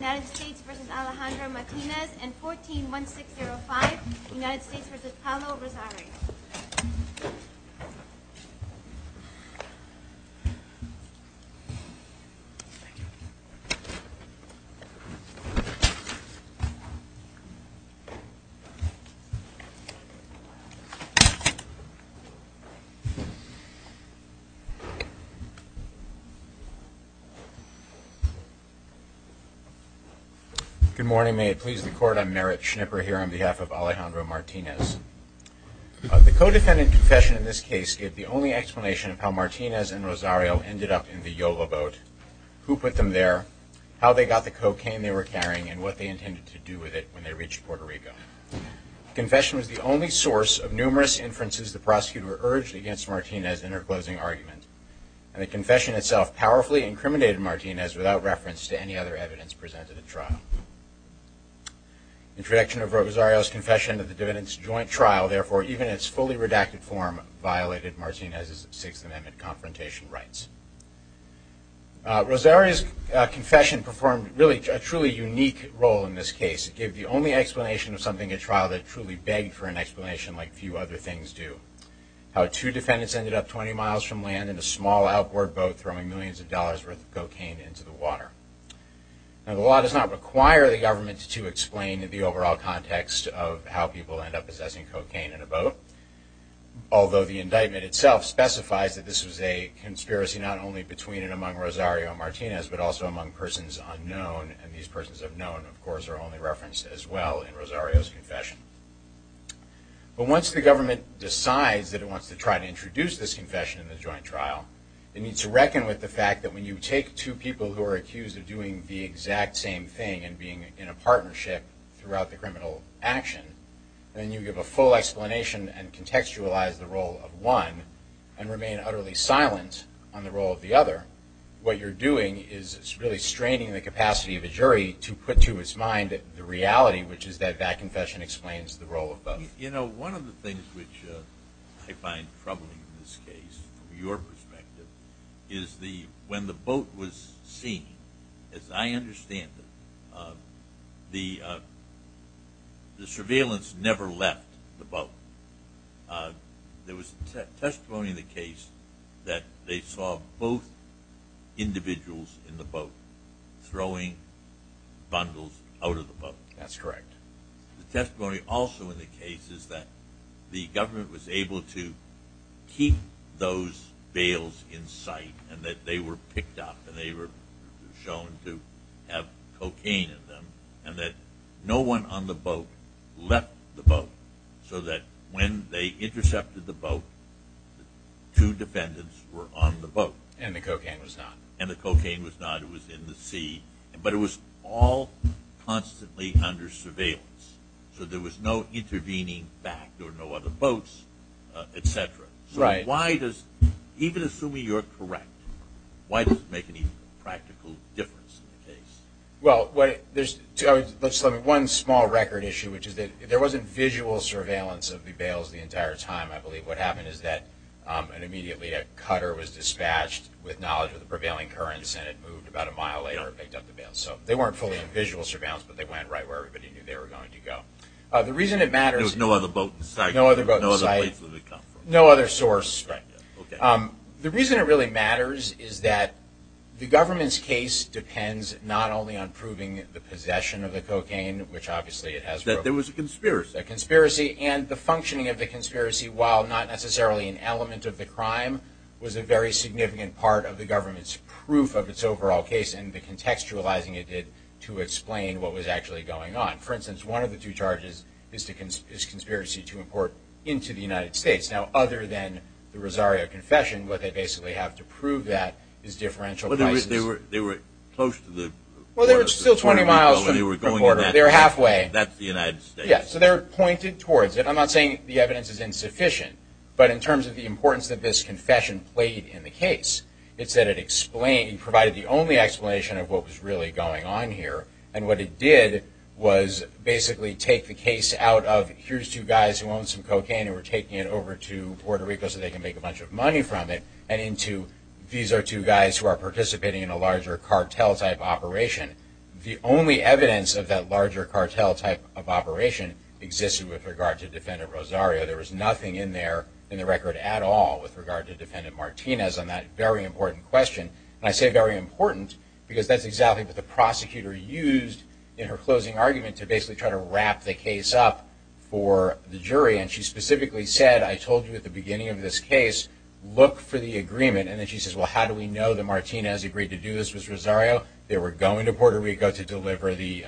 United States v. Alejandro Martinez and 14-1605 United States v. Paolo Rosario. Good morning. May it please the Court, I'm Merrick Schnipper here on behalf of Alejandro Martinez. The co-defendant confession in this case gave the only explanation of how Martinez and Rosario ended up in the Yolo boat, who put them there, how they got the cocaine they were carrying, and what they intended to do with it when they reached Puerto Rico. The confession was the only source of numerous inferences the prosecutor urged against Martinez in her closing argument, and the confession itself powerfully incriminated Martinez without reference to any other evidence presented at trial. Introduction of Rosario's confession at the defendant's joint trial, therefore, even in its fully redacted form, violated Martinez's Sixth Amendment confrontation rights. Rosario's confession performed a truly unique role in this case. It gave the only explanation of something at trial that truly begged for an explanation like few other things do. How two defendants ended up 20 miles from land in a small outboard boat throwing millions of dollars' worth of cocaine into the water. Now, the law does not require the government to explain the overall context of how people end up possessing cocaine in a boat, although the indictment itself specifies that this was a conspiracy not only between and among Rosario and Martinez, but also among persons unknown, and these persons unknown, of course, are only referenced as well in Rosario's confession. But once the government decides that it wants to try to introduce this confession in the joint trial, it needs to reckon with the fact that when you take two people who are accused of doing the exact same thing and being in a partnership throughout the criminal action, and you give a full explanation and contextualize the role of one and remain utterly silent on the role of the other, what you're doing is really straining the capacity of a jury to put to its mind the reality, which is that that confession explains the role of both. You know, one of the things which I find troubling in this case, from your perspective, is when the boat was seen, as I understand it, the surveillance never left the boat. There was testimony in the case that they saw both individuals in the boat throwing bundles out of the boat. That's correct. The testimony also in the case is that the government was able to keep those bales in sight and that they were picked up and they were shown to have cocaine in them and that no one on the boat left the boat so that when they intercepted the boat, two defendants were on the boat. And the cocaine was not. It was in the sea. But it was all constantly under surveillance. So there was no intervening back. There were no other boats, et cetera. So why does, even assuming you're correct, why does it make any practical difference in the case? Well, there's one small record issue, which is that there wasn't visual surveillance of the bales the entire time, I believe. What happened is that immediately a cutter was dispatched with knowledge of the prevailing currents and it moved about a mile later and picked up the bales. So they weren't fully in visual surveillance, but they went right where everybody knew they were going to go. There was no other boat in sight? No other boat in sight. No other place did it come from? No other source. Right. Okay. The reason it really matters is that the government's case depends not only on proving the possession of the cocaine, which obviously it has proven. That there was a conspiracy. There was a conspiracy. And the functioning of the conspiracy, while not necessarily an element of the crime, was a very significant part of the government's proof of its overall case and the contextualizing it did to explain what was actually going on. For instance, one of the two charges is conspiracy to import into the United States. Now, other than the Rosario Confession, what they basically have to prove that is differential prices. They were close to the border. Well, they were still 20 miles from the border. They were halfway. That's the United States. Yes. So they were pointed towards it. I'm not saying the evidence is insufficient. But in terms of the importance that this confession played in the case, it's that it provided the only explanation of what was really going on here. And what it did was basically take the case out of, here's two guys who own some cocaine and we're taking it over to Puerto Rico so they can make a bunch of money from it, and into these are two guys who are participating in a larger cartel-type operation. The only evidence of that larger cartel-type of operation existed with regard to Defendant Rosario. There was nothing in there in the record at all with regard to Defendant Martinez on that very important question. And I say very important because that's exactly what the prosecutor used in her closing argument to basically try to wrap the case up for the jury. And she specifically said, I told you at the beginning of this case, look for the agreement. And then she says, well, how do we know that Martinez agreed to do this with Rosario? They were going to Puerto Rico to deliver the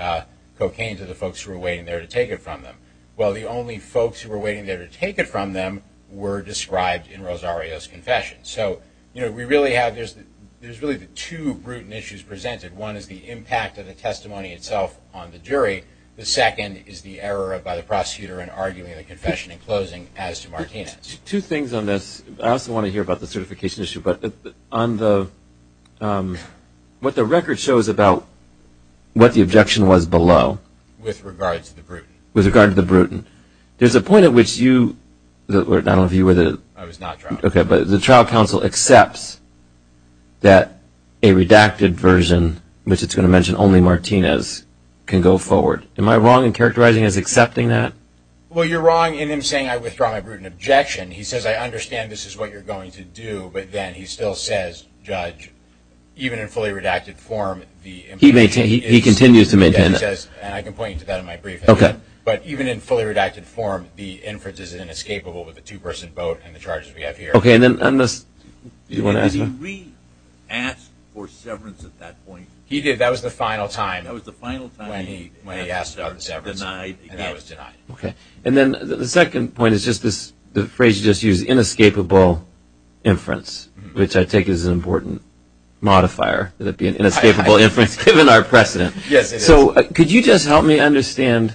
cocaine to the folks who were waiting there to take it from them. Well, the only folks who were waiting there to take it from them were described in Rosario's confession. So, you know, we really have, there's really two brutal issues presented. One is the impact of the testimony itself on the jury. The second is the error by the prosecutor in arguing the confession in closing as to Martinez. Two things on this. I also want to hear about the certification issue. But on the, what the record shows about what the objection was below. With regard to the Bruton. With regard to the Bruton. There's a point at which you, I don't know if you were the. I was not trial counsel. Okay, but the trial counsel accepts that a redacted version, which it's going to mention only Martinez, can go forward. Am I wrong in characterizing as accepting that? Well, you're wrong in him saying I withdraw my Bruton objection. He says I understand this is what you're going to do, but then he still says, judge, even in fully redacted form. He continues to maintain that. And I can point you to that in my brief. Okay. But even in fully redacted form, the inference is inescapable with a two-person vote and the charges we have here. Okay, and then on this. Did he re-ask for severance at that point? He did. That was the final time. That was the final time. When he asked about the severance. And I was denied. Okay. And then the second point is just this phrase you just used, inescapable inference, which I take as an important modifier, that it be an inescapable inference given our precedent. Yes, it is. So could you just help me understand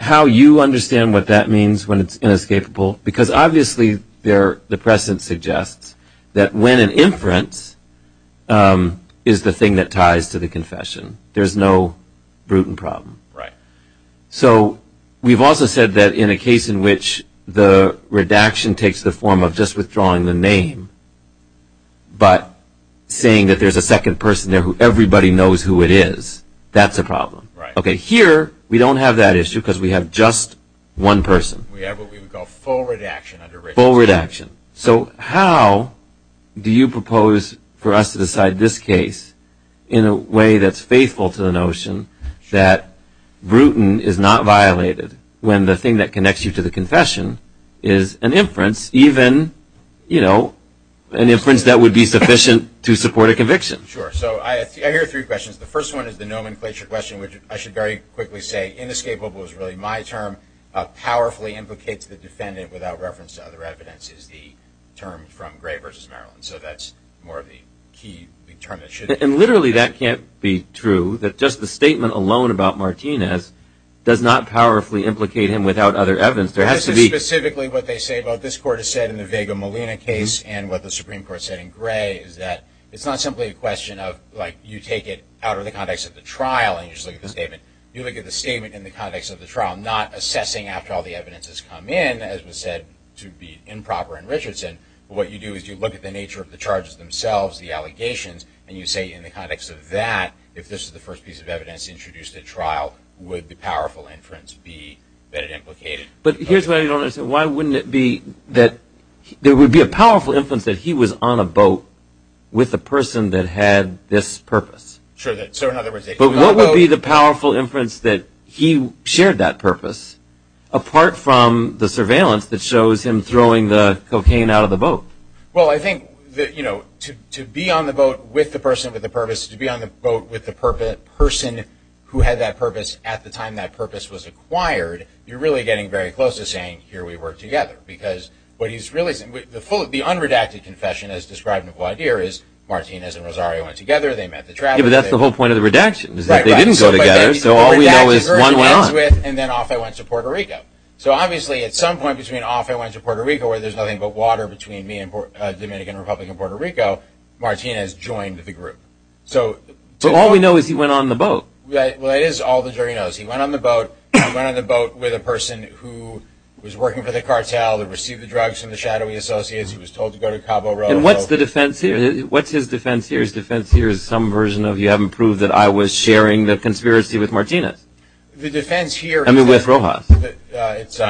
how you understand what that means when it's inescapable? Because obviously the precedent suggests that when an inference is the thing that ties to the confession, there's no Bruton problem. Right. So we've also said that in a case in which the redaction takes the form of just withdrawing the name, but saying that there's a second person there who everybody knows who it is, that's a problem. Right. Okay, here we don't have that issue because we have just one person. We have what we would call full redaction. Full redaction. So how do you propose for us to decide this case in a way that's faithful to the notion that Bruton is not violated when the thing that connects you to the confession is an inference, even, you know, an inference that would be sufficient to support a conviction? Sure. So I hear three questions. The first one is the nomenclature question, which I should very quickly say inescapable is really my term, powerfully implicates the defendant without reference to other evidence is the term from Gray v. Maryland. So that's more of the key term that should be used. And literally that can't be true, that just the statement alone about Martinez does not powerfully implicate him without other evidence. There has to be. This is specifically what they say about this court has said in the Vega-Molina case and what the Supreme Court said in Gray is that it's not simply a question of, like, you take it out of the context of the trial and you just look at the statement. You look at the statement in the context of the trial, not assessing after all the evidence has come in, as was said, to be improper in Richardson. But what you do is you look at the nature of the charges themselves, the allegations, and you say in the context of that, if this is the first piece of evidence introduced at trial, would the powerful inference be that it implicated? But here's what I don't understand. Why wouldn't it be that there would be a powerful inference that he was on a boat with a person that had this purpose? Sure. But what would be the powerful inference that he shared that purpose, apart from the surveillance that shows him throwing the cocaine out of the boat? Well, I think that, you know, to be on the boat with the person with the purpose, to be on the boat with the person who had that purpose at the time that purpose was acquired, you're really getting very close to saying, here, we work together. Because what he's really saying, the full, the unredacted confession as described in Valdir is, Martinez and Rosario went together. They met at the travel agency. But that's the whole point of the redaction is that they didn't go together. So all we know is one went on. And then off I went to Puerto Rico. So obviously at some point between off I went to Puerto Rico, where there's nothing but water between me and Dominican Republic and Puerto Rico, Martinez joined the group. So all we know is he went on the boat. Well, that is all the jury knows. He went on the boat. He went on the boat with a person who was working for the cartel, that received the drugs from the shadowy associates. He was told to go to Cabo Rojo. And what's the defense here? What's his defense here? His defense here is some version of you haven't proved that I was sharing the conspiracy with Martinez. The defense here. I mean, with Rojas. It's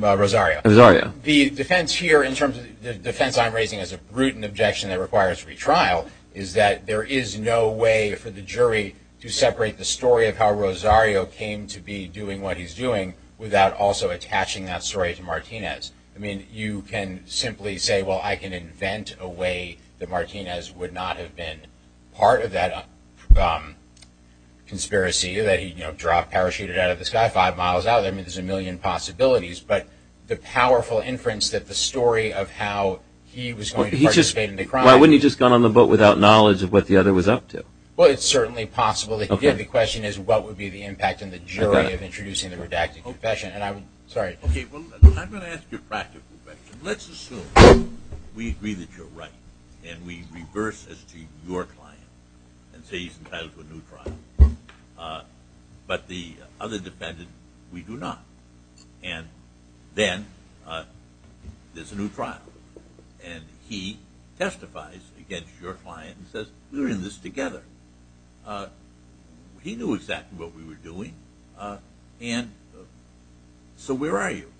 Rosario. Rosario. The defense here, in terms of the defense I'm raising, is a brutal objection that requires retrial, is that there is no way for the jury to separate the story of how Rosario came to be doing what he's doing without also attaching that story to Martinez. I mean, you can simply say, well, I can invent a way that Martinez would not have been part of that conspiracy that he dropped, parachuted out of the sky five miles out. I mean, there's a million possibilities. But the powerful inference that the story of how he was going to participate in the crime. Why wouldn't he have just gone on the boat without knowledge of what the other was up to? Well, it's certainly possible. Again, the question is what would be the impact on the jury of introducing the redacted confession. Sorry. Okay, well, I'm going to ask you a practical question. Let's assume we agree that you're right and we reverse this to your client and say he's entitled to a new trial, but the other defendant, we do not. And then there's a new trial. And he testifies against your client and says, we were in this together. He knew exactly what we were doing. And so where are you?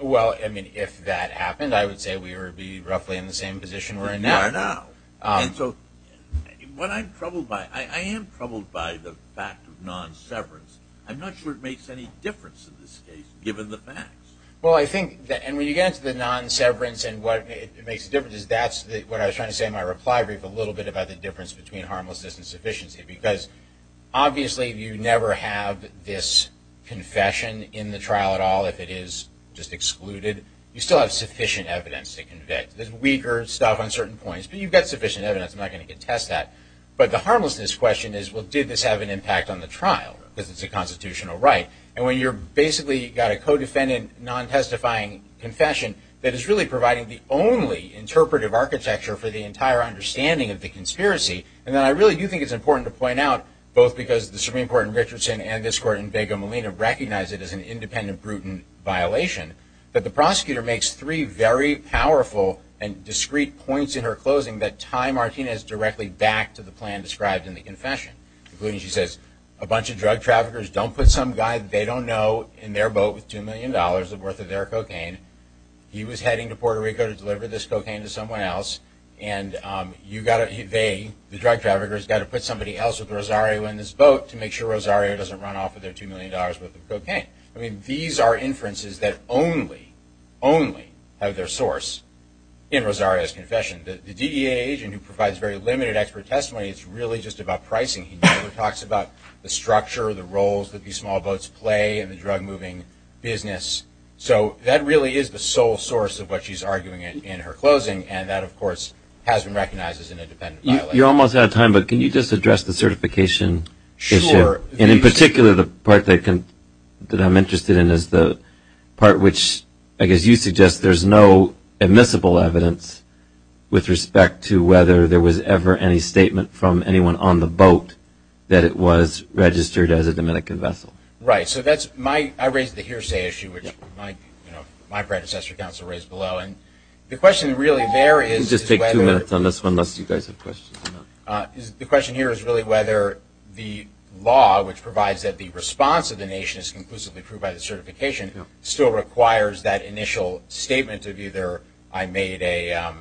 Well, I mean, if that happened, I would say we would be roughly in the same position we're in now. We are now. And so what I'm troubled by, I am troubled by the fact of non-severance. I'm not sure it makes any difference in this case, given the facts. Well, I think, and when you get into the non-severance and what makes the difference, that's what I was trying to say in my reply brief, a little bit about the difference between harmlessness and sufficiency. Because obviously you never have this confession in the trial at all if it is just excluded. You still have sufficient evidence to convict. There's weaker stuff on certain points, but you've got sufficient evidence. I'm not going to contest that. But the harmlessness question is, well, did this have an impact on the trial? Because it's a constitutional right. And when you've basically got a co-defendant non-testifying confession that is really providing the only interpretive architecture for the entire understanding of the conspiracy, and then I really do think it's important to point out, both because the Supreme Court in Richardson and this Court in Vega Molina recognize it as an independent, prudent violation, that the prosecutor makes three very powerful and discreet points in her closing that tie Martinez directly back to the plan described in the confession, including, she says, a bunch of drug traffickers don't put some guy that they don't know in their boat with $2 million worth of their cocaine. He was heading to Puerto Rico to deliver this cocaine to someone else. And you've got to, they, the drug traffickers, got to put somebody else with Rosario in this boat to make sure Rosario doesn't run off with their $2 million worth of cocaine. I mean, these are inferences that only, only have their source in Rosario's confession. The DEA agent who provides very limited expert testimony, it's really just about pricing. He never talks about the structure or the roles that these small boats play in the drug-moving business. So that really is the sole source of what she's arguing in her closing. And that, of course, has been recognized as an independent violation. You're almost out of time, but can you just address the certification issue? Sure. And in particular, the part that I'm interested in is the part which, I guess you suggest, there's no admissible evidence with respect to whether there was ever any statement from anyone on the boat that it was registered as a Dominican vessel. Right. So that's my, I raised the hearsay issue, which my predecessor counsel raised below. And the question really there is whether the question here is really whether the law, which provides that the response of the nation is conclusively proved by the certification, still requires that initial statement of either I made a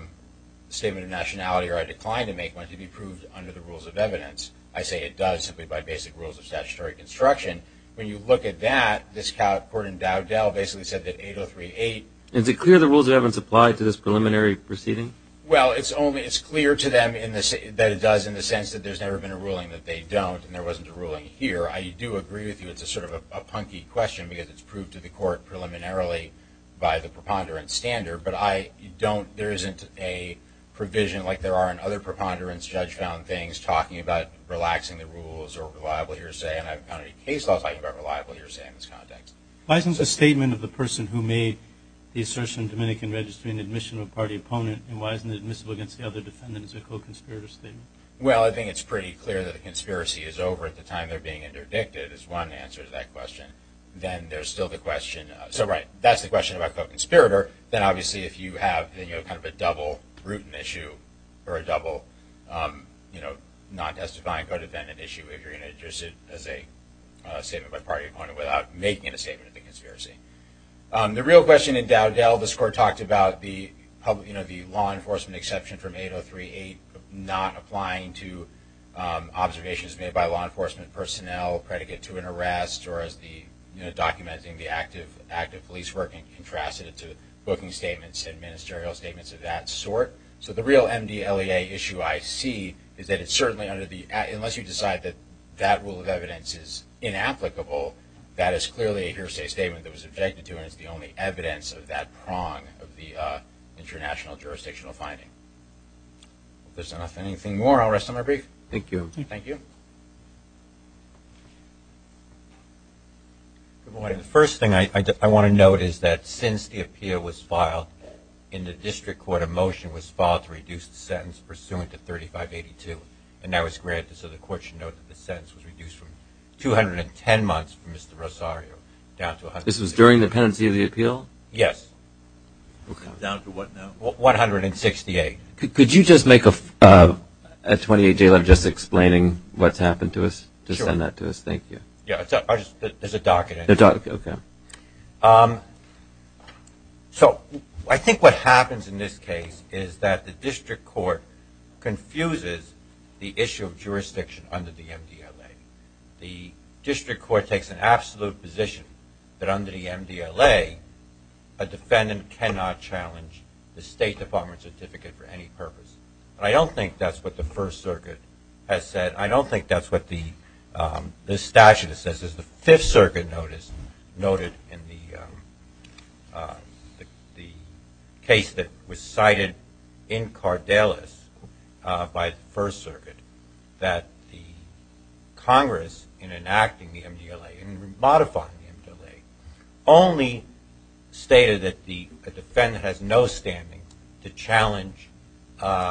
statement of nationality or I declined to make one to be proved under the rules of evidence. I say it does simply by basic rules of statutory construction. When you look at that, this court in Dowdell basically said that 8038. Is it clear the rules of evidence apply to this preliminary proceeding? Well, it's only clear to them that it does in the sense that there's never been a ruling that they don't and there wasn't a ruling here. I do agree with you. It's sort of a punky question because it's proved to the court preliminarily by the preponderance standard. But I don't, there isn't a provision like there are in other preponderance judge found things, talking about relaxing the rules or reliable hearsay. And I haven't found any case laws talking about reliable hearsay in this context. Why isn't the statement of the person who made the assertion in Dominican registry in admission of a party opponent, and why isn't it admissible against the other defendants a co-conspirator statement? Well, I think it's pretty clear that the conspiracy is over at the time they're being interdicted is one answer to that question. Then there's still the question, so right, that's the question about co-conspirator. Then obviously if you have kind of a double rootin' issue or a double, you know, non-testifying co-defendant issue if you're going to address it as a statement by a party opponent without making a statement of the conspiracy. The real question in Dowdell, this court talked about the law enforcement exception from 8038 not applying to observations made by law enforcement personnel predicate to an arrest or as the documenting the active police working contrasted it to booking statements and ministerial statements of that sort. So the real MDLEA issue I see is that it's certainly under the, unless you decide that that rule of evidence is inapplicable, that is clearly a hearsay statement that was objected to and is the only evidence of that prong of the international jurisdictional finding. If there's enough, anything more, I'll rest on my brief. Thank you. Thank you. The first thing I want to note is that since the appeal was filed in the district court, a motion was filed to reduce the sentence pursuant to 3582, and now it's granted so the court should note that the sentence was reduced from 210 months for Mr. Rosario down to 168. This was during the pendency of the appeal? Yes. Down to what now? 168. Could you just make a 28-day limit just explaining what's happened to us? Just send that to us. Thank you. There's a document. Okay. Okay. So I think what happens in this case is that the district court confuses the issue of jurisdiction under the MDLA. The district court takes an absolute position that under the MDLA, a defendant cannot challenge the State Department certificate for any purpose. I don't think that's what the First Circuit has said. I don't think that's what the statute says. The Fifth Circuit notice noted in the case that was cited in Cardales by the First Circuit that the Congress, in enacting the MDLA and modifying the MDLA, only stated that the defendant has no standing to challenge the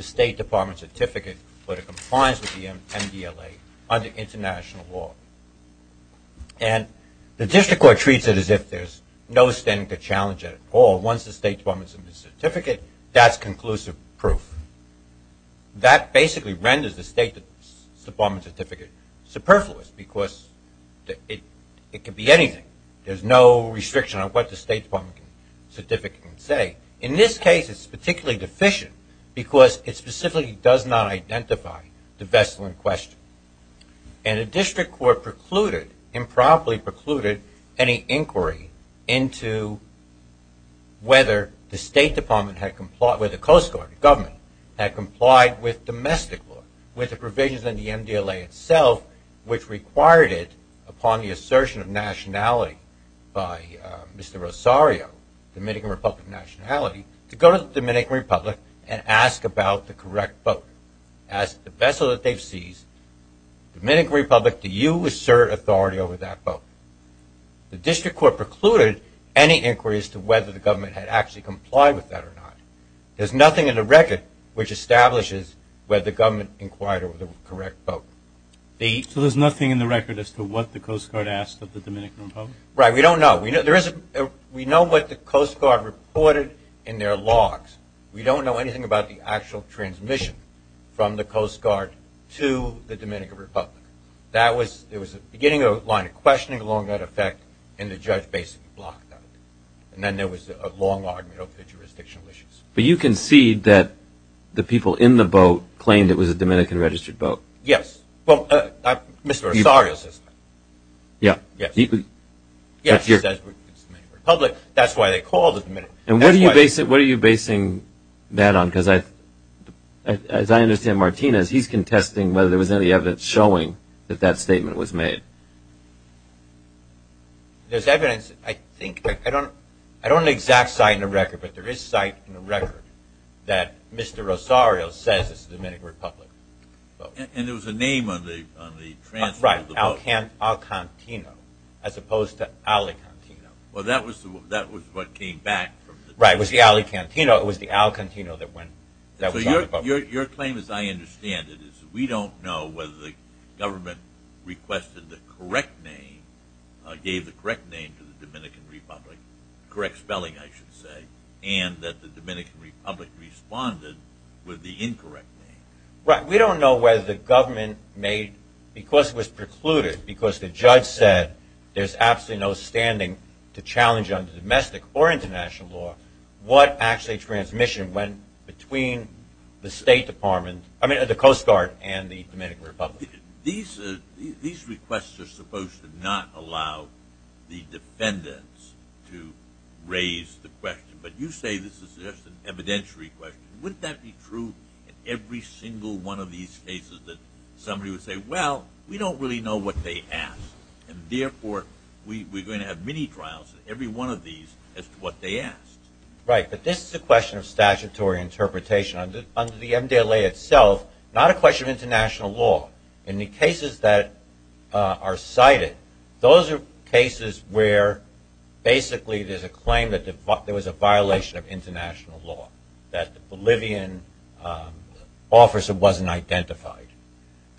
State Department certificate when it complies with the MDLA under international law. And the district court treats it as if there's no standing to challenge it at all. Once the State Department's in the certificate, that's conclusive proof. That basically renders the State Department certificate superfluous because it could be anything. There's no restriction on what the State Department certificate can say. In this case, it's particularly deficient because it specifically does not identify the vessel in question. And the district court precluded, improperly precluded, any inquiry into whether the State Department had complied with the Coast Guard, the government, had complied with domestic law, with the provisions in the MDLA itself, which required it upon the assertion of nationality by Mr. Rosario, Dominican Republic nationality, to go to the Dominican Republic and ask about the correct vote. Ask the vessel that they've seized, Dominican Republic, do you assert authority over that vote? The district court precluded any inquiries to whether the government had actually complied with that or not. There's nothing in the record which establishes whether the government inquired over the correct vote. So there's nothing in the record as to what the Coast Guard asked of the Dominican Republic? Right, we don't know. We know what the Coast Guard reported in their logs. We don't know anything about the actual transmission from the Coast Guard to the Dominican Republic. There was a beginning of a line of questioning along that effect, and the judge basically blocked that. And then there was a long argument over the jurisdictional issues. But you concede that the people in the boat claimed it was a Dominican-registered boat? Yes. Well, Mr. Rosario says that. Yes, he says it's the Dominican Republic. That's why they called it the Dominican Republic. And what are you basing that on? Because as I understand, Martinez, he's contesting whether there was any evidence showing that that statement was made. There's evidence, I think. I don't have an exact cite in the record, but there is a cite in the record that Mr. Rosario says it's the Dominican Republic. And there was a name on the transmission of the boat. Right, Alcantino, as opposed to Alicantino. Well, that was what came back. Right, it was the Alicantino that was on the boat. Your claim, as I understand it, is that we don't know whether the government gave the correct name to the Dominican Republic, correct spelling I should say, and that the Dominican Republic responded with the incorrect name. Right, we don't know whether the government made, because it was precluded, because the judge said there's absolutely no standing to challenge under domestic or international law, what actually transmission went between the Coast Guard and the Dominican Republic. These requests are supposed to not allow the defendants to raise the question, but you say this is just an evidentiary question. Wouldn't that be true in every single one of these cases that somebody would say, well, we don't really know what they asked, and therefore we're going to have mini trials in every one of these as to what they asked. Right, but this is a question of statutory interpretation. Under the MDLA itself, not a question of international law. In the cases that are cited, those are cases where basically there's a claim that there was a violation of international law, that the Bolivian officer wasn't identified,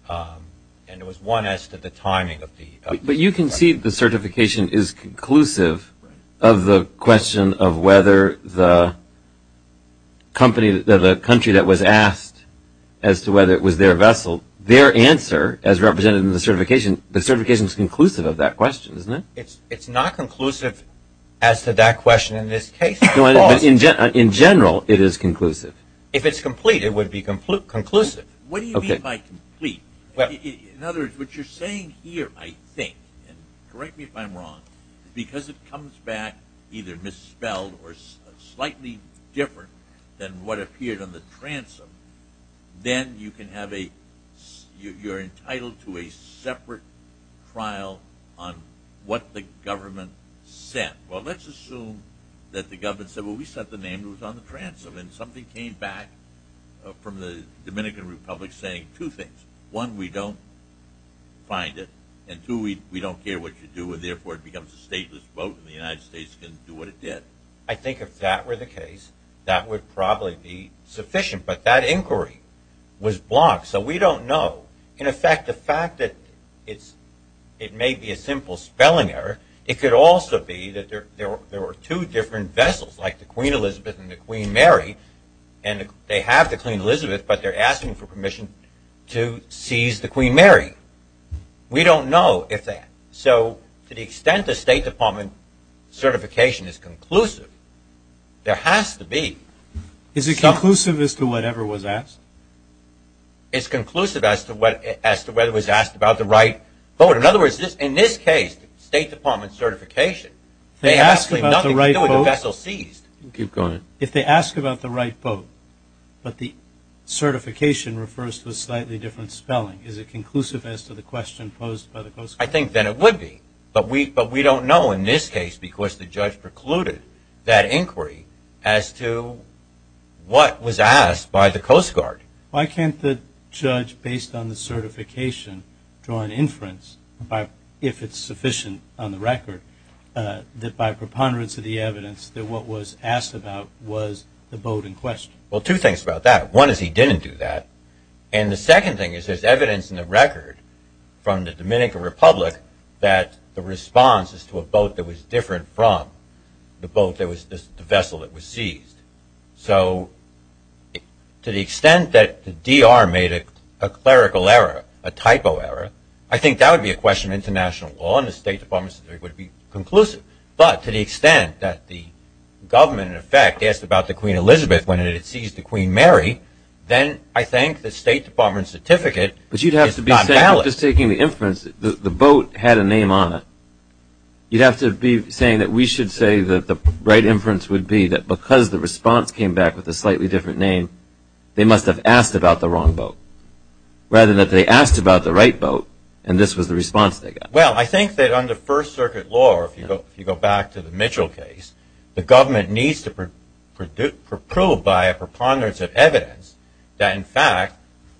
and it was one as to the timing of the request. But you can see the certification is conclusive of the question of whether the country that was asked as to whether it was their vessel, their answer as represented in the certification, the certification is conclusive of that question, isn't it? It's not conclusive as to that question in this case. In general, it is conclusive. If it's complete, it would be conclusive. What do you mean by complete? In other words, what you're saying here, I think, and correct me if I'm wrong, because it comes back either misspelled or slightly different than what appeared on the transom, then you're entitled to a separate trial on what the government said. Well, let's assume that the government said, well, we set the name that was on the transom, and something came back from the Dominican Republic saying two things. One, we don't find it, and two, we don't care what you do, and therefore it becomes a stateless vote and the United States can do what it did. I think if that were the case, that would probably be sufficient. But that inquiry was blocked, so we don't know. In effect, the fact that it may be a simple spelling error, it could also be that there were two different vessels, like the Queen Elizabeth and the Queen Mary, and they have the Queen Elizabeth, but they're asking for permission to seize the Queen Mary. We don't know if that. So to the extent the State Department certification is conclusive, there has to be. Is it conclusive as to whatever was asked? It's conclusive as to whether it was asked about the right vote. In other words, in this case, the State Department certification, if they ask about the right vote, but the certification refers to a slightly different spelling, is it conclusive as to the question posed by the Coast Guard? I think that it would be, but we don't know in this case because the judge precluded that inquiry as to what was asked by the Coast Guard. Why can't the judge, based on the certification, draw an inference, if it's sufficient on the record, that by preponderance of the evidence that what was asked about was the boat in question? Well, two things about that. One is he didn't do that, and the second thing is there's evidence in the record from the Dominican Republic that the response is to a boat that was different from the vessel that was seized. So to the extent that the DR made a clerical error, a typo error, I think that would be a question of international law, and the State Department certificate would be conclusive. But to the extent that the government, in effect, asked about the Queen Elizabeth when it had seized the Queen Mary, then I think the State Department certificate is not valid. You're not just taking the inference that the boat had a name on it. You'd have to be saying that we should say that the right inference would be that because the response came back with a slightly different name, they must have asked about the wrong boat, rather than that they asked about the right boat and this was the response they got. Well, I think that under First Circuit law, or if you go back to the Mitchell case, the government needs to prove by a preponderance of evidence that, in fact,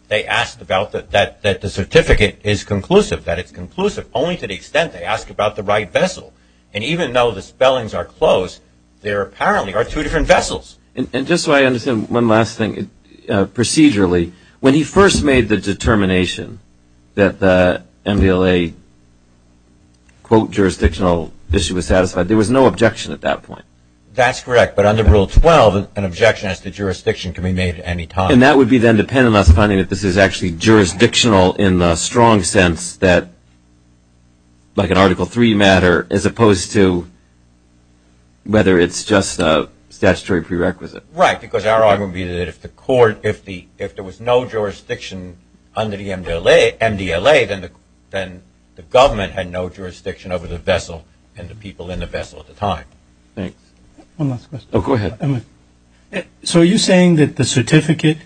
they asked about that the certificate is conclusive, that it's conclusive, only to the extent they ask about the right vessel. And even though the spellings are close, there apparently are two different vessels. And just so I understand one last thing, procedurally, when he first made the determination that the MVLA, quote, jurisdictional issue was satisfied, there was no objection at that point. That's correct. But under Rule 12, an objection as to jurisdiction can be made at any time. And that would be then dependent on us finding that this is actually jurisdictional in the strong sense that, like an Article III matter as opposed to whether it's just a statutory prerequisite. Right, because our argument would be that if there was no jurisdiction under the MVLA, then the government had no jurisdiction over the vessel and the people in the vessel at the time. Thanks. One last question. Oh, go ahead. So are you saying that the certificate,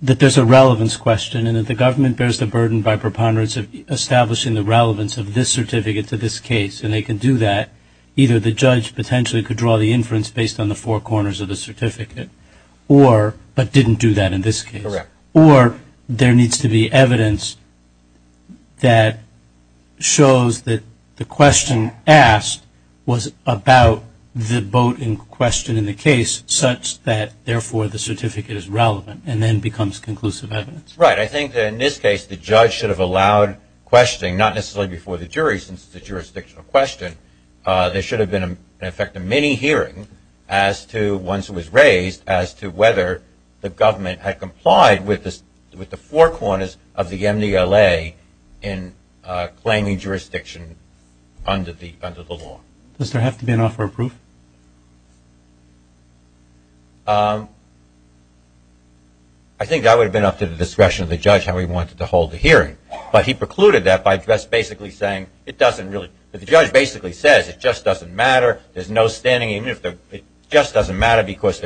that there's a relevance question and that the government bears the burden by preponderance of establishing the relevance of this certificate to this case and they can do that, either the judge potentially could draw the inference based on the four corners of the certificate, but didn't do that in this case. Correct. Or there needs to be evidence that shows that the question asked was about the vote in question in the case such that, therefore, the certificate is relevant and then becomes conclusive evidence. Right. I think that in this case the judge should have allowed questioning, not necessarily before the jury since it's a jurisdictional question. There should have been, in effect, a mini-hearing as to, once it was raised, as to whether the government had complied with the four corners of the MVLA in claiming jurisdiction under the law. Does there have to be an offer of proof? I think that would have been up to the discretion of the judge how he wanted to hold the hearing, but he precluded that by just basically saying it doesn't really, the judge basically says it just doesn't matter, there's no standing, it just doesn't matter because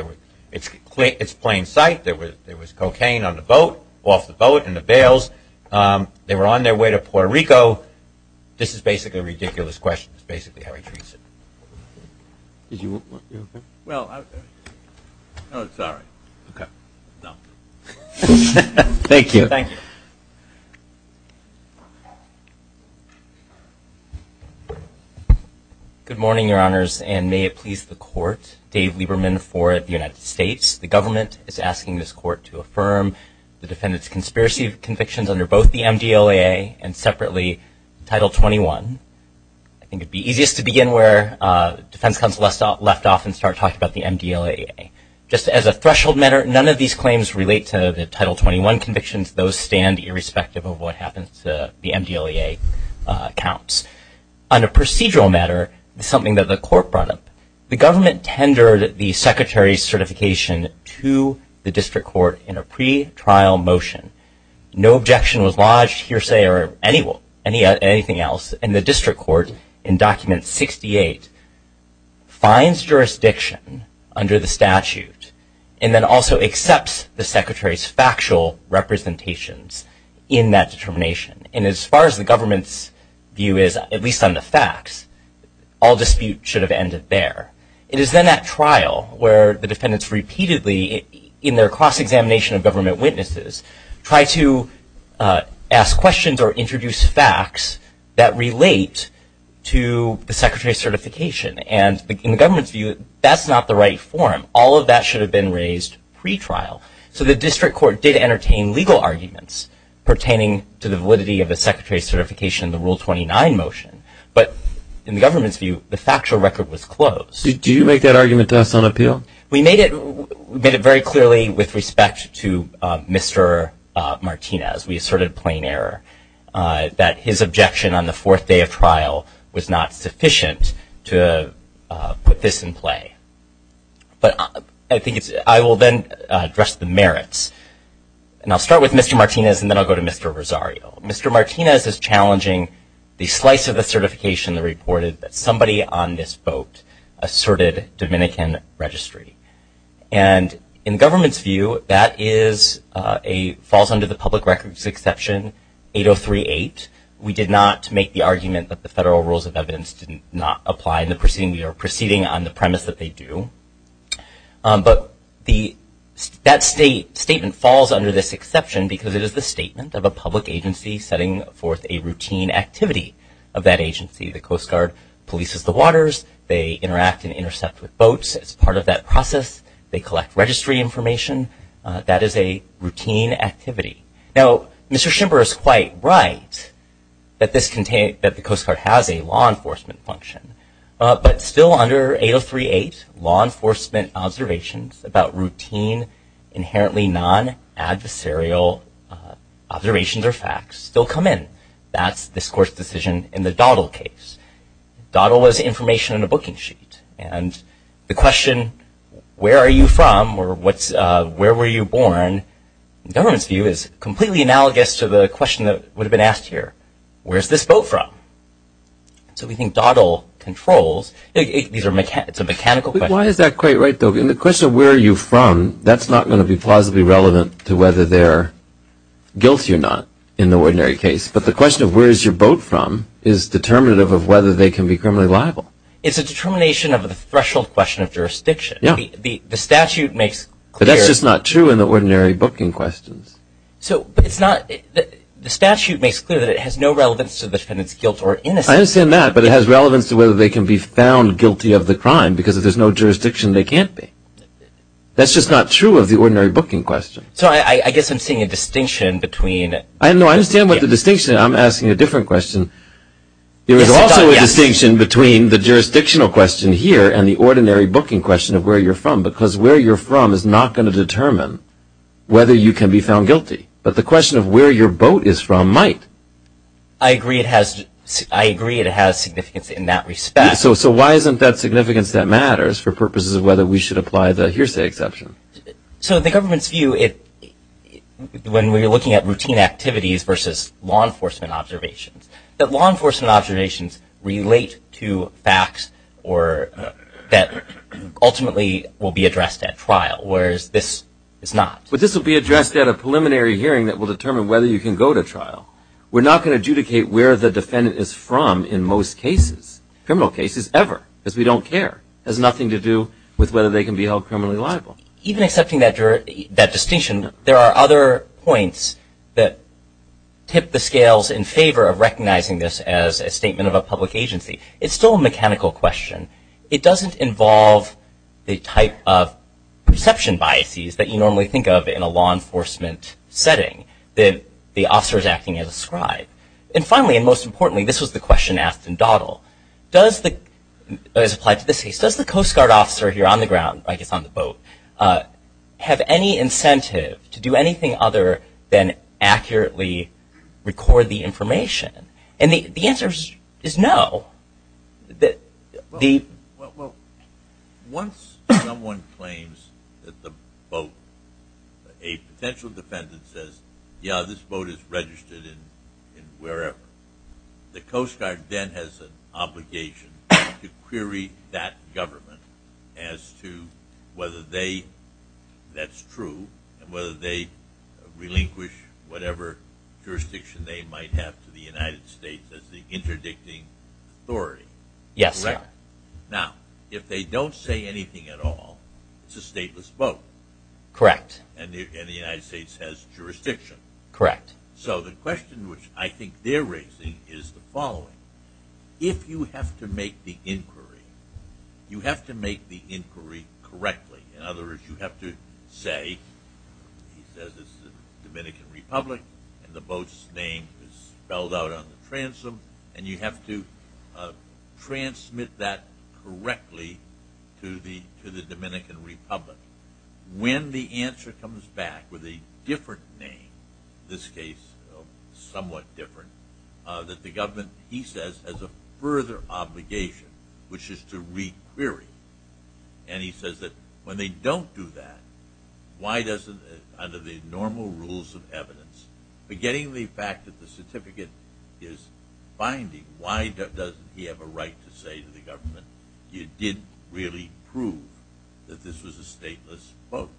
it's plain sight, there was cocaine on the boat, off the boat, in the bails, they were on their way to Puerto Rico, this is basically a ridiculous question, that's basically how he treats it. Did you want, you okay? Well, I, oh, sorry. Okay. No. Thank you. Thank you. Thank you. Good morning, Your Honors, and may it please the court. Dave Lieberman for the United States. The government is asking this court to affirm the defendant's conspiracy convictions under both the MDLAA and separately Title 21. I think it would be easiest to begin where the defense counsel left off and start talking about the MDLAA. Just as a threshold matter, none of these claims relate to the Title 21 convictions, those stand irrespective of what happens to the MDLAA counts. On a procedural matter, something that the court brought up, the government tendered the secretary's certification to the district court in a pretrial motion. No objection was lodged, hearsay or anything else, and the district court in Document 68 finds jurisdiction under the statute and then also accepts the secretary's factual representations in that determination. And as far as the government's view is, at least on the facts, all dispute should have ended there. It is then at trial where the defendants repeatedly, in their cross-examination of government witnesses, try to ask questions or introduce facts that relate to the secretary's certification. And in the government's view, that's not the right form. All of that should have been raised pretrial. So the district court did entertain legal arguments pertaining to the validity of the secretary's certification in the Rule 29 motion. But in the government's view, the factual record was closed. Did you make that argument to us on appeal? We made it very clearly with respect to Mr. Martinez. We asserted plain error that his objection on the fourth day of trial was not sufficient to put this in play. But I will then address the merits. And I'll start with Mr. Martinez and then I'll go to Mr. Rosario. Mr. Martinez is challenging the slice of the certification that reported that somebody on this vote asserted Dominican registry. And in the government's view, that falls under the public records exception 8038. We did not make the argument that the federal rules of evidence did not apply in the proceeding. We are proceeding on the premise that they do. But that statement falls under this exception because it is the statement of a public agency setting forth a routine activity of that agency. The Coast Guard polices the waters. They interact and intercept with boats as part of that process. They collect registry information. That is a routine activity. Now, Mr. Schimper is quite right that the Coast Guard has a law enforcement function. But still under 8038, law enforcement observations about routine, inherently non-adversarial observations or facts still come in. That's this Court's decision in the Doddle case. Doddle was information on a booking sheet. And the question, where are you from or where were you born, in the government's view, is completely analogous to the question that would have been asked here, where is this boat from? So we think Doddle controls. It's a mechanical question. Why is that quite right, though? In the question of where are you from, that's not going to be plausibly relevant to whether they're guilty or not in the ordinary case. But the question of where is your boat from is determinative of whether they can be criminally liable. It's a determination of the threshold question of jurisdiction. Yeah. The statute makes clear. But that's just not true in the ordinary booking questions. So it's not the statute makes clear that it has no relevance to the defendant's guilt or innocence. I understand that, but it has relevance to whether they can be found guilty of the crime because if there's no jurisdiction, they can't be. That's just not true of the ordinary booking question. So I guess I'm seeing a distinction between. No, I understand what the distinction is. I'm asking a different question. There is also a distinction between the jurisdictional question here and the ordinary booking question of where you're from because where you're from is not going to determine whether you can be found guilty. But the question of where your boat is from might. I agree it has significance in that respect. So why isn't that significance that matters for purposes of whether we should apply the hearsay exception? So the government's view, when we're looking at routine activities versus law enforcement observations, that law enforcement observations relate to facts that ultimately will be addressed at trial, whereas this is not. But this will be addressed at a preliminary hearing that will determine whether you can go to trial. We're not going to adjudicate where the defendant is from in most cases, criminal cases ever, because we don't care. It has nothing to do with whether they can be held criminally liable. Even accepting that distinction, there are other points that tip the scales in favor of recognizing this as a statement of a public agency. It's still a mechanical question. It doesn't involve the type of perception biases that you normally think of in a law enforcement setting that the officer is acting as a scribe. And finally, and most importantly, this was the question asked in Doddle, does the Coast Guard officer here on the ground, I guess on the boat, have any incentive to do anything other than accurately record the information? And the answer is no. Well, once someone claims that the boat, a potential defendant says, yeah, this boat is registered in wherever, the Coast Guard then has an obligation to query that government as to whether that's true and whether they relinquish whatever jurisdiction they might have to the United States as the interdicting authority. Yes, sir. Now, if they don't say anything at all, it's a stateless boat. Correct. And the United States has jurisdiction. Correct. So the question which I think they're raising is the following. If you have to make the inquiry, you have to make the inquiry correctly. In other words, you have to say, he says it's the Dominican Republic, and the boat's name is spelled out on the transom, and you have to transmit that correctly to the Dominican Republic. When the answer comes back with a different name, in this case somewhat different, that the government, he says, has a further obligation, which is to re-query. And he says that when they don't do that, under the normal rules of evidence, forgetting the fact that the certificate is binding, why doesn't he have a right to say to the government, you didn't really prove that this was a stateless boat,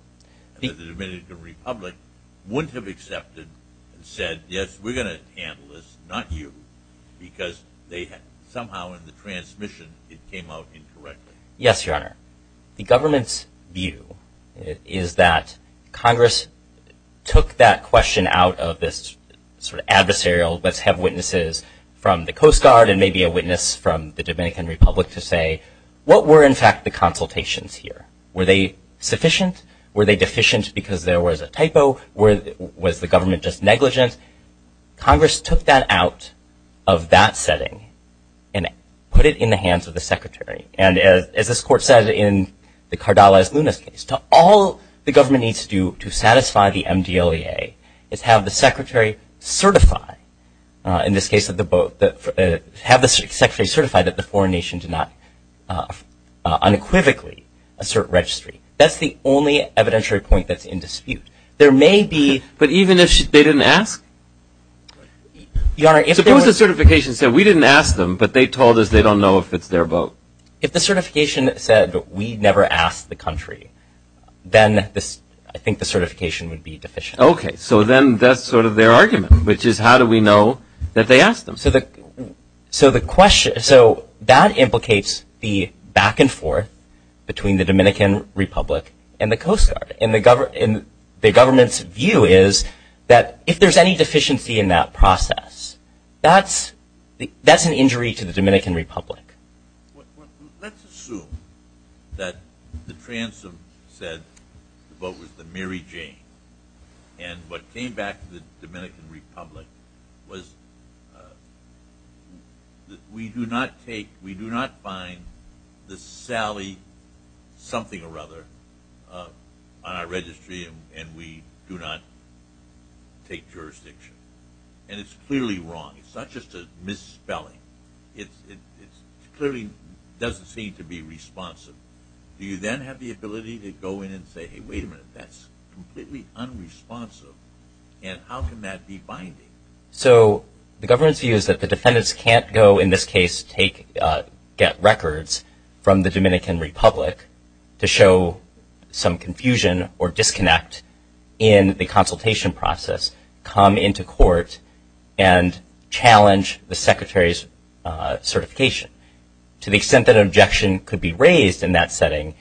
and that the Dominican Republic wouldn't have accepted and said, yes, we're going to handle this, not you, because somehow in the transmission it came out incorrectly. Yes, Your Honor. The government's view is that Congress took that question out of this sort of adversarial, let's have witnesses from the Coast Guard and maybe a witness from the Dominican Republic to say, what were, in fact, the consultations here? Were they sufficient? Were they deficient because there was a typo? Was the government just negligent? Congress took that out of that setting and put it in the hands of the Secretary. And as this Court said in the Cardales-Lunas case, all the government needs to do to satisfy the MDLEA is have the Secretary certify, in this case, have the Secretary certify that the foreign nation did not unequivocally assert registry. That's the only evidentiary point that's in dispute. There may be. But even if they didn't ask? Your Honor, if there was. Suppose the certification said we didn't ask them, but they told us they don't know if it's their vote. If the certification said we never asked the country, then I think the certification would be deficient. Okay. So then that's sort of their argument, which is how do we know that they asked them? So that implicates the back and forth between the Dominican Republic and the Coast Guard. And the government's view is that if there's any deficiency in that process, that's an injury to the Dominican Republic. Let's assume that the transom said the vote was the Mary Jane. And what came back to the Dominican Republic was we do not find the Sally something or other on our registry and we do not take jurisdiction. And it's clearly wrong. It's not just a misspelling. It clearly doesn't seem to be responsive. Do you then have the ability to go in and say, hey, wait a minute, that's completely unresponsive. And how can that be binding? So the government's view is that the defendants can't go, in this case, get records from the Dominican Republic to show some confusion or disconnect in the consultation process, come into court, and challenge the Secretary's certification. To the extent that an objection could be raised in that setting,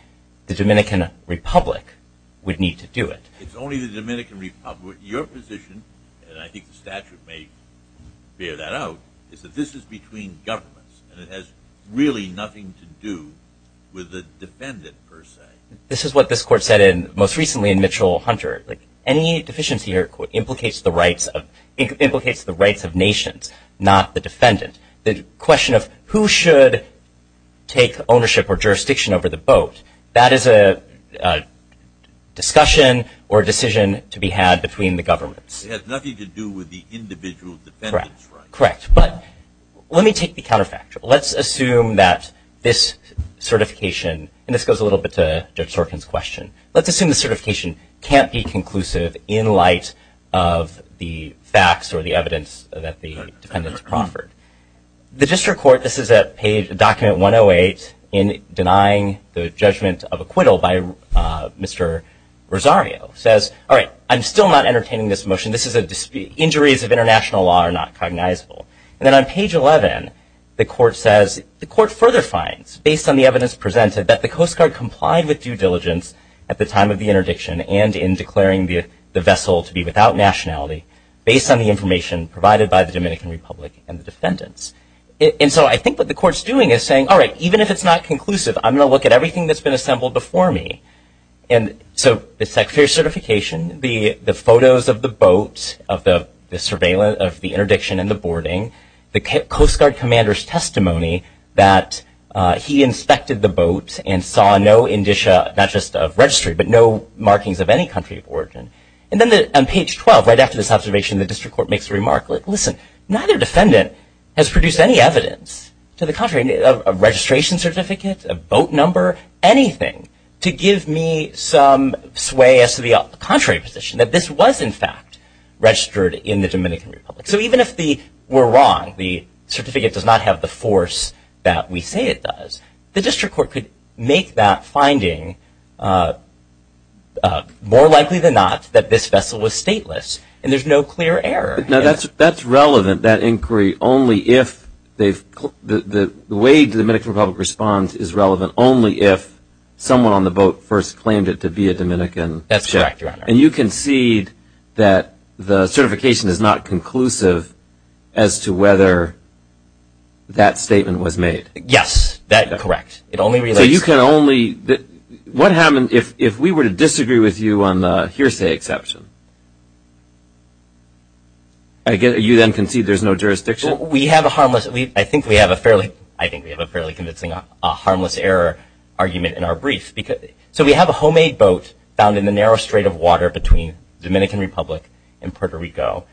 the Dominican Republic would need to do it. It's only the Dominican Republic. Your position, and I think the statute may bear that out, is that this is between governments and it has really nothing to do with the defendant, per se. This is what this Court said most recently in Mitchell-Hunter. Any deficiency here implicates the rights of nations, not the defendant. The question of who should take ownership or jurisdiction over the boat, that is a discussion or decision to be had between the governments. It has nothing to do with the individual defendant's rights. Correct. But let me take the counterfactual. Let's assume that this certification, and this goes a little bit to Judge Sorkin's question, let's assume the certification can't be conclusive in light of the facts or the evidence that the defendants proffered. The District Court, this is at document 108, in denying the judgment of acquittal by Mr. Rosario, says, all right, I'm still not entertaining this motion. This is a dispute. Injuries of international law are not cognizable. And then on page 11, the Court further finds, based on the evidence presented, that the Coast Guard complied with due diligence at the time of the interdiction and in declaring the vessel to be without nationality, based on the information provided by the Dominican Republic and the defendants. And so I think what the Court's doing is saying, all right, even if it's not conclusive, I'm going to look at everything that's been assembled before me. And so the Secretary of Certification, the photos of the boat, of the surveillance of the interdiction and the boarding, the Coast Guard commander's testimony that he inspected the boat and saw no indicia not just of registry, but no markings of any country of origin. And then on page 12, right after this observation, the District Court makes a remark, listen, neither defendant has produced any evidence to the contrary, a registration certificate, a boat number, anything, to give me some sway as to the contrary position, that this was, in fact, registered in the Dominican Republic. So even if we're wrong, the certificate does not have the force that we say it does, the District Court could make that finding more likely than not that this vessel was stateless, and there's no clear error. Now, that's relevant, that inquiry, only if they've – the way the Dominican Republic responds is relevant only if someone on the boat first claimed it to be a Dominican. That's correct, Your Honor. And you concede that the certification is not conclusive as to whether that statement was made? Yes, that's correct. So you can only – what happens if we were to disagree with you on the hearsay exception? You then concede there's no jurisdiction? We have a harmless – I think we have a fairly convincing harmless error argument in our brief. So we have a homemade boat found in the narrow strait of water between the Dominican Republic and Puerto Rico,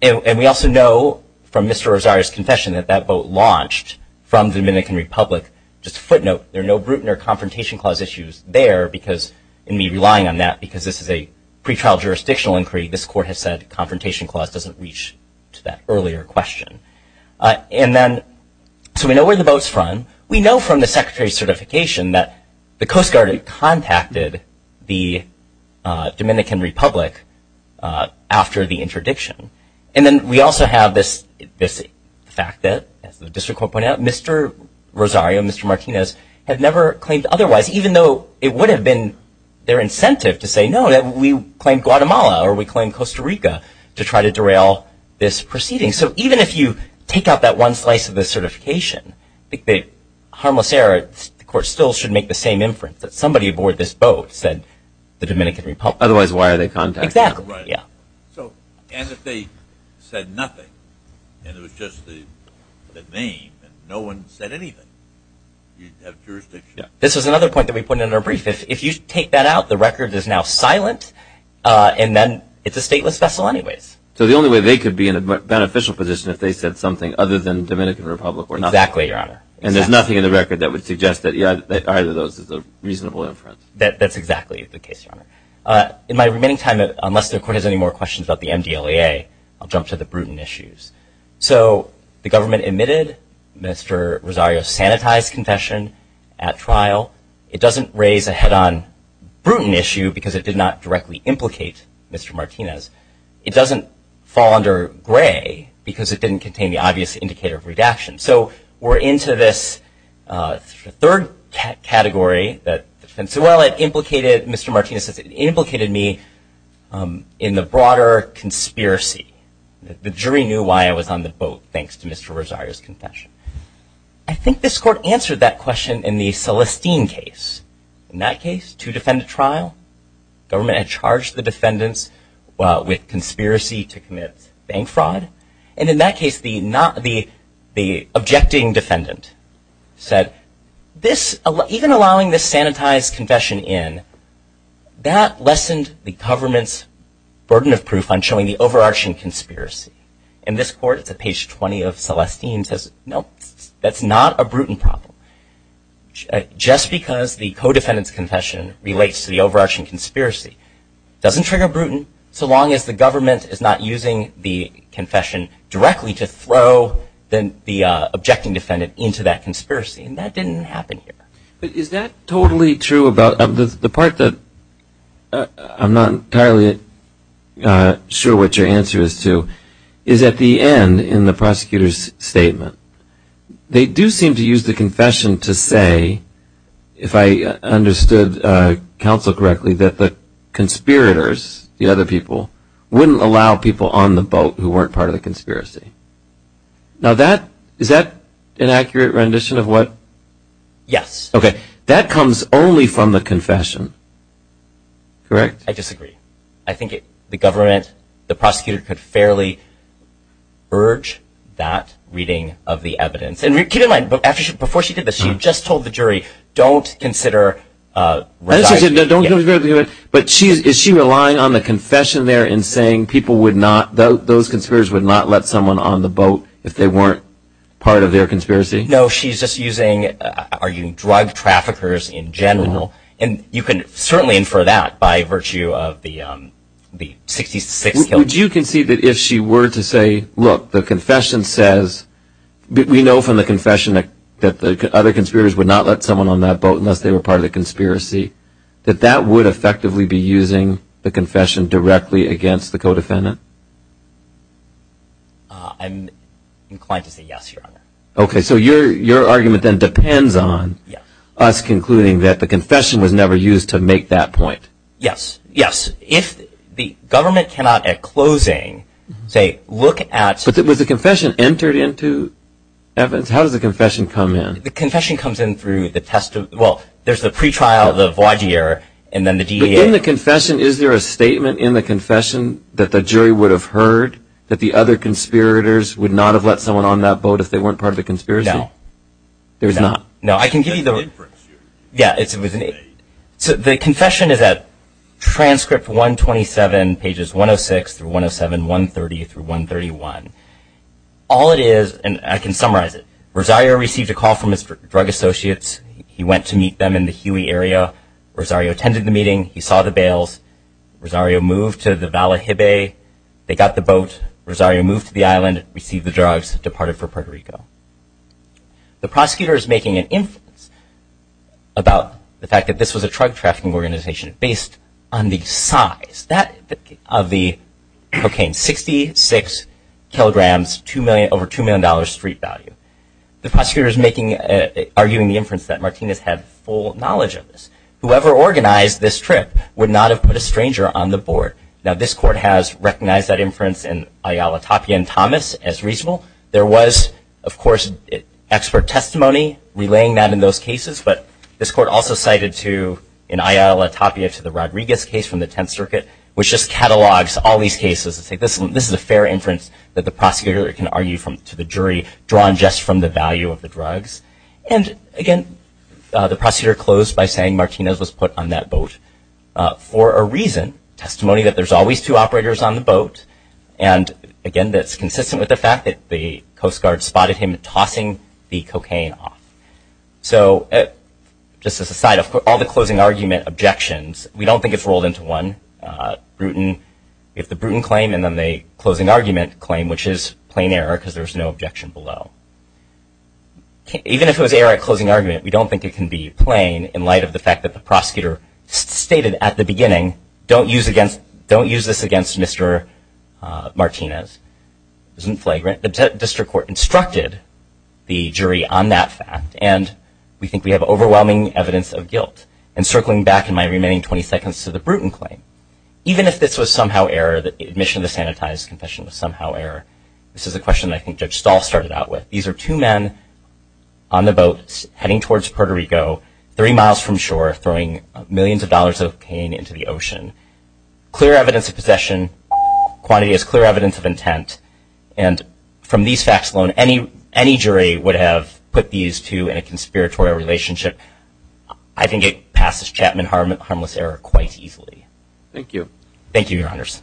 and we also know from Mr. Rosario's confession that that boat launched from the Dominican Republic. Just a footnote, there are no Bruton or Confrontation Clause issues there because – and me relying on that because this is a pretrial jurisdictional inquiry, this Court has said Confrontation Clause doesn't reach to that earlier question. And then – so we know where the boat's from. We know from the Secretary's certification that the Coast Guard contacted the Dominican Republic after the interdiction. And then we also have this fact that, as the District Court pointed out, Mr. Rosario and Mr. Martinez have never claimed otherwise, even though it would have been their incentive to say no, that we claim Guatemala or we claim Costa Rica to try to derail this proceeding. So even if you take out that one slice of the certification, I think the harmless error – the Court still should make the same inference that somebody aboard this boat said the Dominican Republic. Otherwise, why are they contacting? Exactly. And if they said nothing and it was just the name and no one said anything, you'd have jurisdiction. This is another point that we put in our brief. If you take that out, the record is now silent, and then it's a stateless vessel anyways. So the only way they could be in a beneficial position if they said something other than Dominican Republic or not. Exactly, Your Honor. And there's nothing in the record that would suggest that either of those is a reasonable inference. That's exactly the case, Your Honor. In my remaining time, unless the Court has any more questions about the MDLEA, I'll jump to the Bruton issues. So the government admitted Mr. Rosario's sanitized confession at trial. It doesn't raise a head-on Bruton issue because it did not directly implicate Mr. Martinez. It doesn't fall under gray because it didn't contain the obvious indicator of redaction. So we're into this third category. And so while it implicated Mr. Martinez, it implicated me in the broader conspiracy. The jury knew why I was on the boat, thanks to Mr. Rosario's confession. I think this Court answered that question in the Celestine case. In that case, to defend a trial, government had charged the defendants, well, with conspiracy to commit bank fraud. And in that case, the objecting defendant said, even allowing this sanitized confession in, that lessened the government's burden of proof on showing the overarching conspiracy. And this Court, it's at page 20 of Celestine, says, no, that's not a Bruton problem. Just because the co-defendant's confession relates to the overarching conspiracy doesn't trigger Bruton, so long as the government is not using the confession directly to throw the objecting defendant into that conspiracy. And that didn't happen here. But is that totally true about the part that I'm not entirely sure what your answer is to, is at the end in the prosecutor's statement. They do seem to use the confession to say, if I understood counsel correctly, that the conspirators, the other people, wouldn't allow people on the boat who weren't part of the conspiracy. Now, is that an accurate rendition of what? Yes. Okay. That comes only from the confession. Correct? I disagree. I think the government, the prosecutor, could fairly urge that reading of the evidence. And keep in mind, before she did this, she had just told the jury, don't consider resigning. But is she relying on the confession there in saying people would not, those conspirators would not let someone on the boat if they weren't part of their conspiracy? No, she's just using, are you drug traffickers in general? And you can certainly infer that by virtue of the 66 kills. Would you concede that if she were to say, look, the confession says, we know from the confession that the other conspirators would not let someone on that boat unless they were part of the conspiracy, that that would effectively be using the confession directly against the co-defendant? I'm inclined to say yes, Your Honor. Okay. So your argument then depends on us concluding that the confession was never used to make that point. Yes. Yes. If the government cannot, at closing, say, look at But was the confession entered into evidence? How does the confession come in? The confession comes in through the test of, well, there's the pretrial, the voir dire, and then the DEA. But in the confession, is there a statement in the confession that the jury would have heard, that the other conspirators would not have let someone on that boat if they weren't part of the conspiracy? No. There's not? No. I can give you the Yeah. So the confession is at transcript 127, pages 106 through 107, 130 through 131. All it is, and I can summarize it. Rosario received a call from his drug associates. He went to meet them in the Huey area. Rosario attended the meeting. He saw the bails. Rosario moved to the Vallejibe. They got the boat. Rosario moved to the island, received the drugs, departed for Puerto Rico. The prosecutor is making an inference about the fact that this was a drug trafficking organization based on the size of the cocaine. 66 kilograms, over $2 million street value. The prosecutor is arguing the inference that Martinez had full knowledge of this. Whoever organized this trip would not have put a stranger on the board. Now, this court has recognized that inference in Ayala Tapia and Thomas as reasonable. There was, of course, expert testimony relaying that in those cases. But this court also cited, in Ayala Tapia, to the Rodriguez case from the Tenth Circuit, which just catalogs all these cases. This is a fair inference that the prosecutor can argue to the jury, drawn just from the value of the drugs. And, again, the prosecutor closed by saying Martinez was put on that boat for a reason. Expert testimony that there's always two operators on the boat. And, again, that's consistent with the fact that the Coast Guard spotted him tossing the cocaine off. So, just as a side, of all the closing argument objections, we don't think it's rolled into one. If the Bruton claim and then the closing argument claim, which is plain error because there's no objection below. Even if it was error at closing argument, we don't think it can be plain in light of the fact that the prosecutor stated at the beginning, don't use this against Mr. Martinez. Isn't flagrant. The district court instructed the jury on that fact. And we think we have overwhelming evidence of guilt. And circling back in my remaining 20 seconds to the Bruton claim, even if this was somehow error, the admission of the sanitized confession was somehow error, this is a question I think Judge Stahl started out with. These are two men on the boat heading towards Puerto Rico, three miles from shore, throwing millions of dollars of cocaine into the ocean. Clear evidence of possession. Quantity is clear evidence of intent. And from these facts alone, any jury would have put these two in a conspiratorial relationship. I think it passes Chapman harmless error quite easily. Thank you. Thank you, Your Honors.